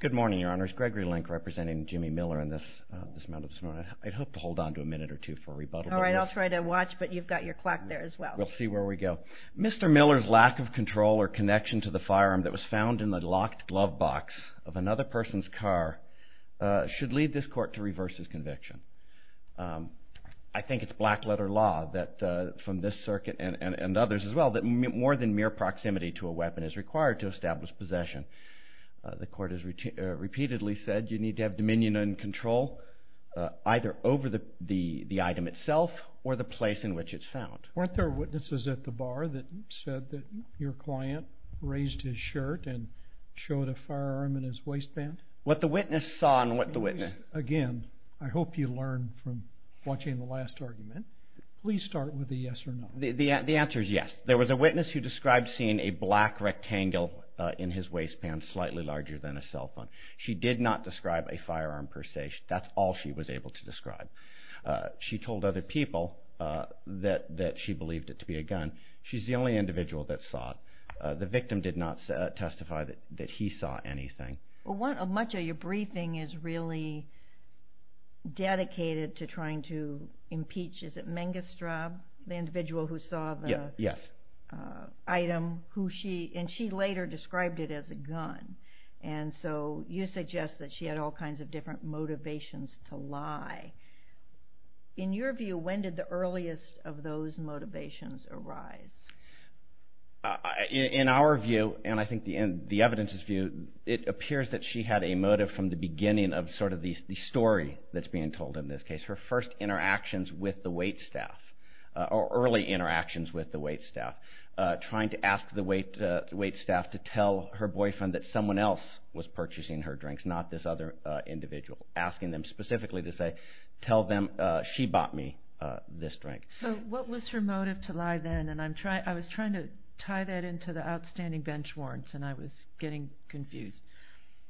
Good morning, Your Honors. Gregory Link representing Jimmy Miller in this amount of time. I'd hope to hold on to a minute or two for rebuttal. All right. I'll try to watch, but you've got your clock there as well. We'll see where we go. Mr. Miller's lack of control or connection to the firearm that was found in the locked glove box of another person's car should lead this court to reverse his conviction. I think it's black letter law that from this circuit and others as well that more than mere proximity to a weapon is required to establish possession. The court has repeatedly said you need to have dominion and control either over the item itself or the place in which it's found. Weren't there witnesses at the bar that said that your client raised his shirt and showed a firearm in his waistband? What the witness saw and what the witness... Again, I hope you learn from watching the last argument. Please start with the yes or no. The answer is yes. There was a witness who described seeing a black rectangle in his waistband slightly larger than a cell phone. She did not describe a firearm per se. That's all she was able to describe. She told other people that she believed it to be a gun. She's the only individual that saw it. The victim did not testify that he saw anything. Much of your briefing is really dedicated to trying to impeach, is it correct? Yes. She later described it as a gun. You suggest that she had all kinds of different motivations to lie. In your view, when did the earliest of those motivations arise? In our view, and I think the evidence's view, it appears that she had a motive from the beginning of the story that's being told in this case. Her first interactions with the waitstaff, or early interactions with the waitstaff, trying to ask the waitstaff to tell her boyfriend that someone else was purchasing her drinks, not this other individual. Asking them specifically to say, tell them she bought me this drink. What was her motive to lie then? I was trying to tie that into the outstanding bench warrants and I was getting confused.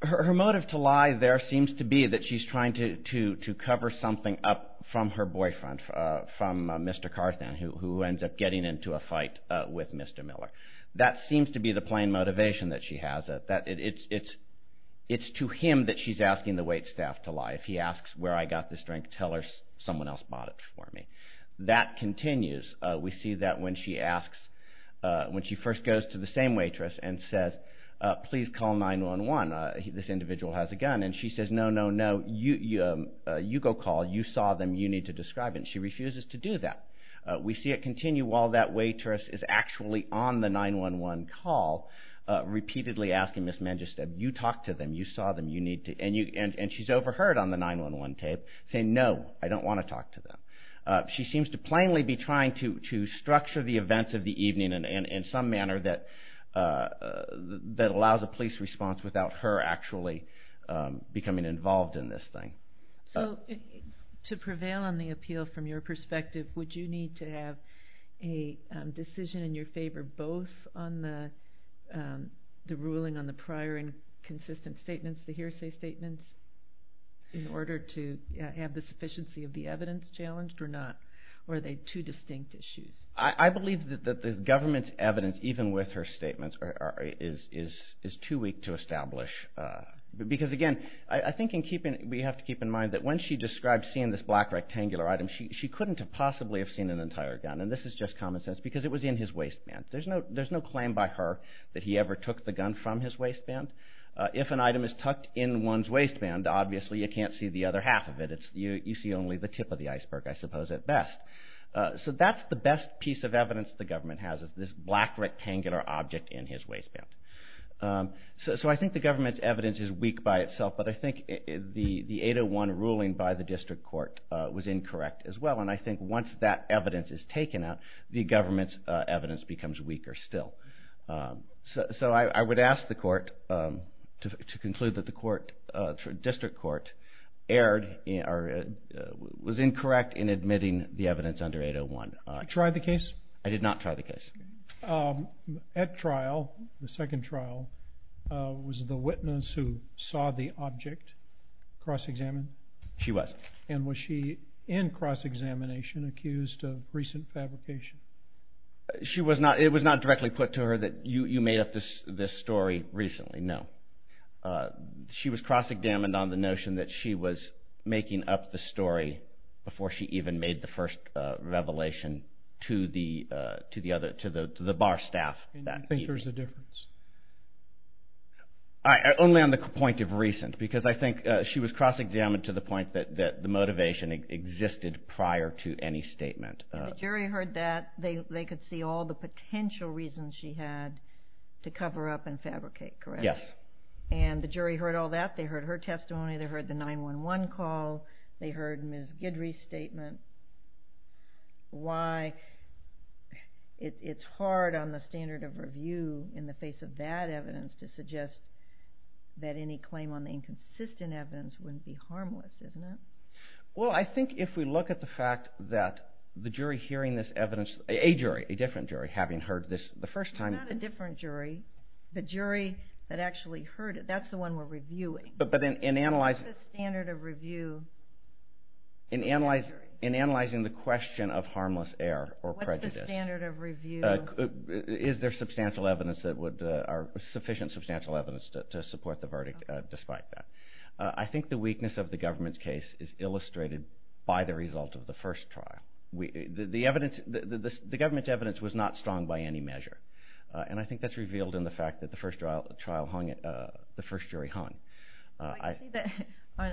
Her motive to lie there seems to be that she's trying to cover something up from her boyfriend, from Mr. Carthan, who ends up getting into a fight with Mr. Miller. That seems to be the plain motivation that she has. It's to him that she's asking the waitstaff to lie. If he asks where I got this drink, tell her someone else bought it for me. That continues. We see that when she asks, when she first goes to the same waitress and says, please call 911, this individual has a gun, and she says, no, no, no, you go call, you saw them, you need to describe them. She refuses to do that. We see it continue while that waitress is actually on the 911 call, repeatedly asking Ms. Mangisteb, you talked to them, you saw them, you need to, and she's overheard on the 911 tape saying, no, I don't want to talk to them. She seems to plainly be trying to structure the events of some manner that allows a police response without her actually becoming involved in this thing. So to prevail on the appeal from your perspective, would you need to have a decision in your favor both on the ruling on the prior and consistent statements, the hearsay statements, in order to have the sufficiency of the evidence challenged or not? Or are they two distinct issues? I believe that the government's evidence, even with her statements, is too weak to establish. Because again, I think we have to keep in mind that when she described seeing this black rectangular item, she couldn't have possibly have seen an entire gun, and this is just common sense, because it was in his waistband. There's no claim by her that he ever took the gun from his waistband. If an item is tucked in one's waistband, obviously you can't see the other half of it. You see only the tip of the piece of evidence the government has, this black rectangular object in his waistband. So I think the government's evidence is weak by itself, but I think the 801 ruling by the district court was incorrect as well, and I think once that evidence is taken out, the government's evidence becomes weaker still. So I would ask the court to conclude that the district court was incorrect in admitting the evidence under 801. You tried the case? I did not try the case. At trial, the second trial, was the witness who saw the object cross-examined? She was. And was she, in cross-examination, accused of recent fabrication? It was not directly put to her that you made up this story recently, no. She was cross-examined on the notion that she was making up the story before she even made the first revelation to the bar staff that evening. Do you think there's a difference? Only on the point of recent, because I think she was cross-examined to the point that the motivation existed prior to any statement. If the jury heard that, they could see all the potential reasons she had to cover up and fabricate, correct? Yes. And the jury heard all that, they heard her testimony, they heard the 911 call, they heard Ms. Guidry's statement, why it's hard on the standard of review in the face of that evidence to suggest that any claim on the inconsistent evidence wouldn't be harmless, isn't it? Well, I think if we look at the fact that the jury hearing this evidence, a jury, a different jury, having heard this the first time. Not a different jury, the jury that actually heard it. That's the one we're reviewing. What's the standard of review? In analyzing the question of harmless error or prejudice. What's the standard of review? Is there sufficient substantial evidence to support the verdict despite that? I think the weakness of the government's case is illustrated by the result of the first trial. The government's evidence was not strong by any measure, and I think that's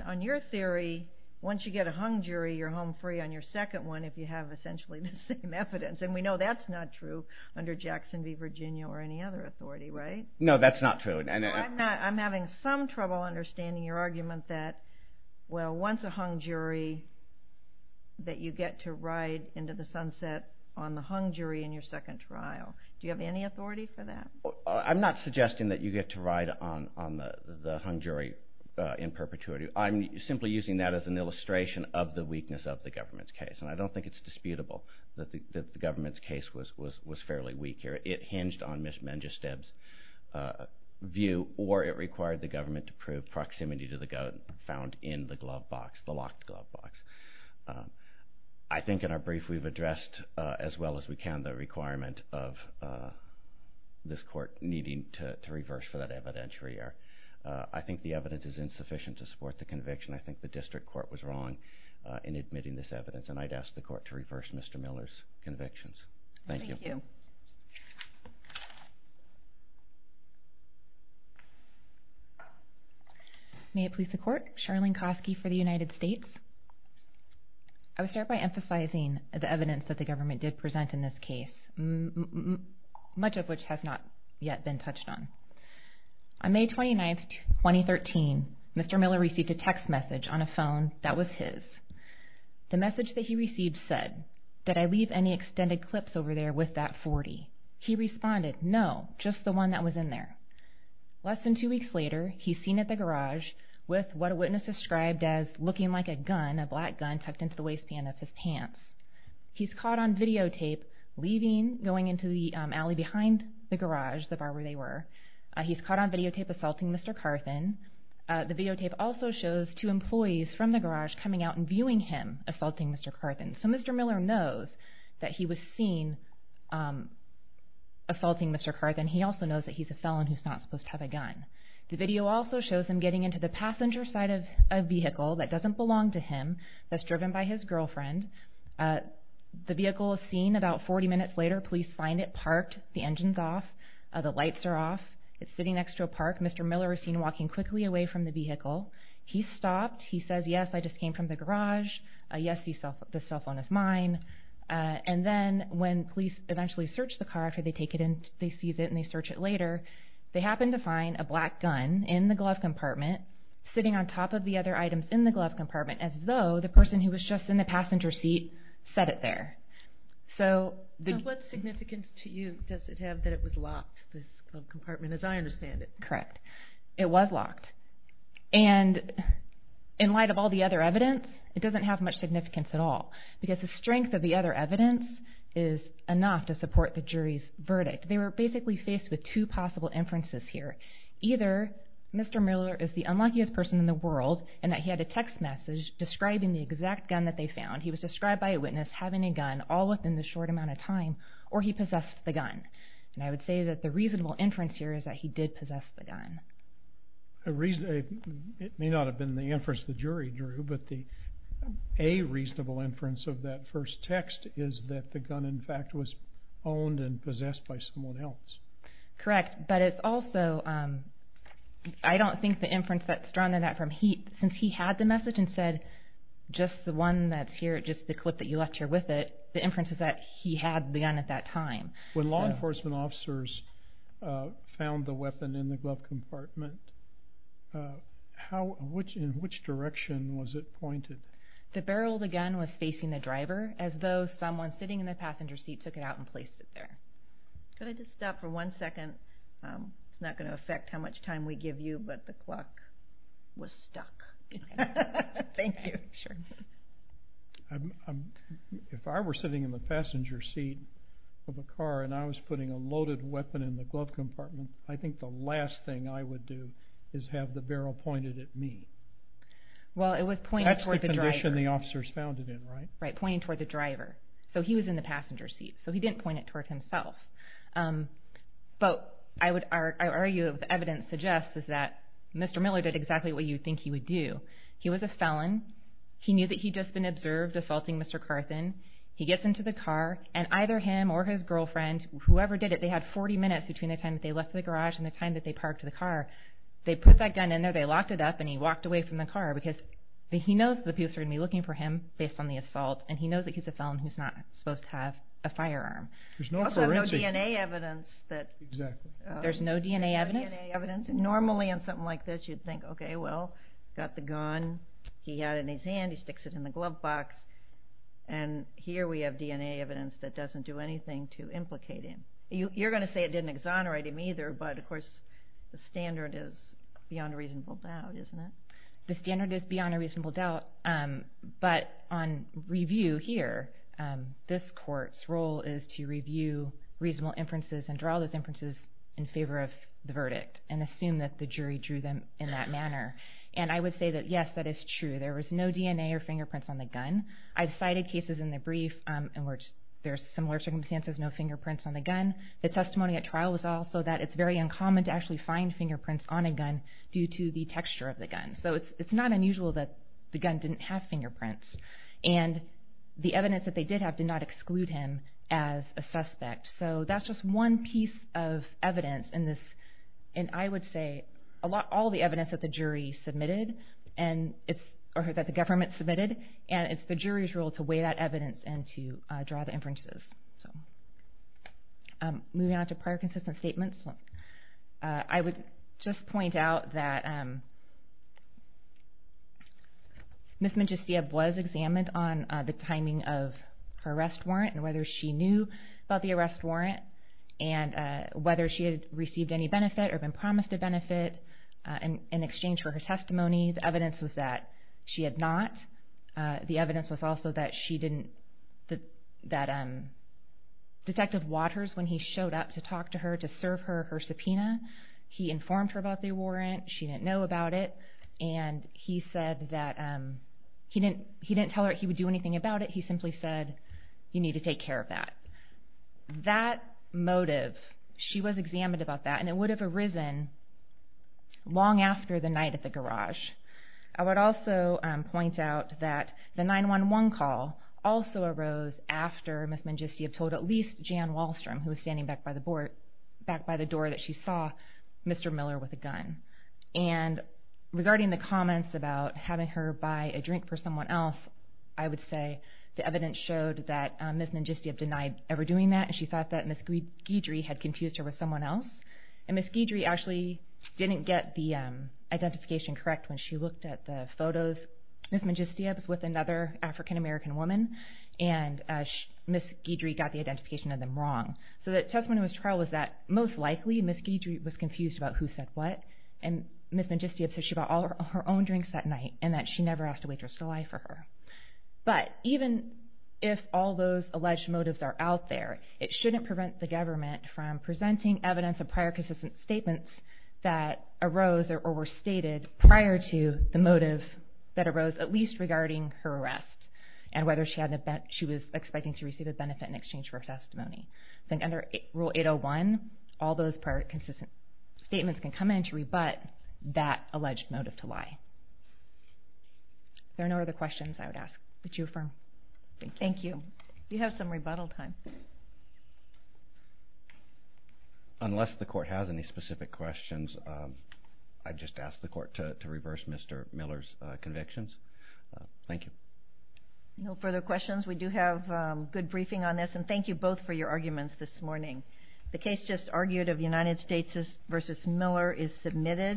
On your theory, once you get a hung jury, you're home free on your second one if you have essentially the same evidence. And we know that's not true under Jackson v. Virginia or any other authority, right? No, that's not true. I'm having some trouble understanding your argument that, well, once a hung jury, that you get to ride into the sunset on the hung jury in your second trial. Do you have any authority for that? I'm not suggesting that you get to ride on the hung jury in perpetuity. I'm simply using that as an illustration of the weakness of the government's case, and I don't think it's disputable that the government's case was fairly weak here. It hinged on Ms. Menjesteb's view, or it required the government to prove proximity to the goat found in the glove box, the locked glove box. I think in our brief we've addressed as well as we can the requirement of this court needing to reverse for that evidentiary. I think the evidence is insufficient to support the conviction. I think the district court was wrong in admitting this evidence, and I'd ask the court to reverse Mr. Miller's convictions. Thank you. Thank you. May it please the Court. Charlene Kosky for the United States. I would start by emphasizing the evidence that the government did present in this case. Much of which has not yet been touched on. On May 29, 2013, Mr. Miller received a text message on a phone that was his. The message that he received said, did I leave any extended clips over there with that 40? He responded, no, just the one that was in there. Less than two weeks later, he's seen at the garage with what a witness described as looking like a gun, a black gun tucked into the waistband of his pants. He's caught on videotape leaving, going into the alley behind the garage, the bar where they were. He's caught on videotape assaulting Mr. Carthan. The videotape also shows two employees from the garage coming out and viewing him assaulting Mr. Carthan. So Mr. Miller knows that he was seen assaulting Mr. Carthan. He also knows that he's a felon who's not supposed to have a gun. The video also shows him getting into the passenger side of a vehicle that doesn't belong to him, that's driven by his girlfriend. The vehicle is seen. About 40 minutes later, police find it parked. The engine's off. The lights are off. It's sitting next to a park. Mr. Miller is seen walking quickly away from the vehicle. He's stopped. He says, yes, I just came from the garage. Yes, this cell phone is mine. And then when police eventually search the car after they take it in, they seize it and they search it later, they happen to find a black gun in the glove compartment sitting on top of the other items in the glove compartment as though the person who was just in the passenger seat set it there. So what significance to you does it have that it was locked, this glove compartment, as I understand it? Correct. It was locked. And in light of all the other evidence, it doesn't have much significance at all because the strength of the other evidence is enough to support the jury's verdict. They were basically faced with two possible inferences here. Either Mr. Miller is the unluckiest person in the world and that he had a text message describing the exact gun that they found. He was described by a witness having a gun all within the short amount of time or he possessed the gun. And I would say that the reasonable inference here is that he did possess the gun. It may not have been the inference the jury drew, but a reasonable inference of that first text is that the gun, in fact, was owned and possessed by someone else. Correct. But it's also, I don't think the inference that's drawn on that from, since he had the message and said just the one that's here, just the clip that you left here with it, the inference is that he had the gun at that time. When law enforcement officers found the weapon in the glove compartment, in which direction was it pointed? The barrel of the gun was facing the driver as though someone sitting in the passenger seat took it out and placed it there. Could I just stop for one second? It's not going to affect how much time we give you, but the clock was stuck. Thank you. Sure. If I were sitting in the passenger seat of a car and I was putting a loaded weapon in the glove compartment, I think the last thing I would do is have the barrel pointed at me. That's the condition the officers found it in, right? Right, pointing toward the driver. So he was in the passenger seat. So he didn't point it toward himself. But I would argue that what the evidence suggests is that Mr. Miller did exactly what you would think he would do. He was a felon. He knew that he'd just been observed assaulting Mr. Carthen. He gets into the car, and either him or his girlfriend, whoever did it, they had 40 minutes between the time that they left the garage and the time that they parked the car. They put that gun in there, they locked it up, and he walked away from the car because he knows that people are going to be looking for him based on the assault, and he knows that he's a felon who's not supposed to have a firearm. He also had no DNA evidence. Exactly. There's no DNA evidence? No DNA evidence. Normally on something like this you'd think, okay, well, got the gun, he had it in his hand, he sticks it in the glove box, and here we have DNA evidence that doesn't do anything to implicate him. You're going to say it didn't exonerate him either, but of course the standard is beyond a reasonable doubt, isn't it? The standard is beyond a reasonable doubt, but on review here, this court's role is to review reasonable inferences and draw those inferences in favor of the verdict and assume that the jury drew them in that manner. I would say that, yes, that is true. There was no DNA or fingerprints on the gun. I've cited cases in the brief in which there are similar circumstances, no fingerprints on the gun. The testimony at trial was also that it's very uncommon to actually find fingerprints on a gun due to the texture of the gun. So it's not unusual that the gun didn't have fingerprints, and the evidence that they did have did not exclude him as a suspect. So that's just one piece of evidence in this, and I would say all the evidence that the jury submitted or that the government submitted, it's the jury's role to weigh that evidence and to draw the inferences. Moving on to prior consistent statements, I would just point out that Ms. Magistia was examined on the timing of her arrest warrant and whether she knew about the arrest warrant and whether she had received any benefit or been promised a benefit in exchange for her testimony. The evidence was that she had not. The evidence was also that Detective Waters, when he showed up to talk to her to serve her her subpoena, he informed her about the warrant, she didn't know about it, and he said that he didn't tell her he would do anything about it, he simply said, you need to take care of that. That motive, she was examined about that, and it would have arisen long after the night at the garage. I would also point out that the 911 call also arose after Ms. Magistia told at least Jan Wallstrom, who was standing back by the door, that she saw Mr. Miller with a gun. And regarding the comments about having her buy a drink for someone else, I would say the evidence showed that Ms. Magistia denied ever doing that and she thought that Ms. Guidry had confused her with someone else, and Ms. Guidry actually didn't get the identification correct when she looked at the photos. Ms. Magistia was with another African-American woman, and Ms. Guidry got the identification of them wrong. So the testimony in this trial was that most likely Ms. Guidry was confused about who said what, and Ms. Magistia said she bought all her own drinks that night and that she never asked a waitress to lie for her. But even if all those alleged motives are out there, it shouldn't prevent the government from presenting evidence of prior consistent statements that arose or were stated prior to the motive that arose, at least regarding her arrest, and whether she was expecting to receive a benefit in exchange for her testimony. So under Rule 801, all those prior consistent statements can come in to rebut that alleged motive to lie. If there are no other questions, I would ask that you affirm. Thank you. Thank you. You have some rebuttal time. Unless the Court has any specific questions, I'd just ask the Court to reverse Mr. Miller's convictions. Thank you. No further questions. We do have good briefing on this, and thank you both for your arguments this morning. The case just argued of United States v. Miller is submitted.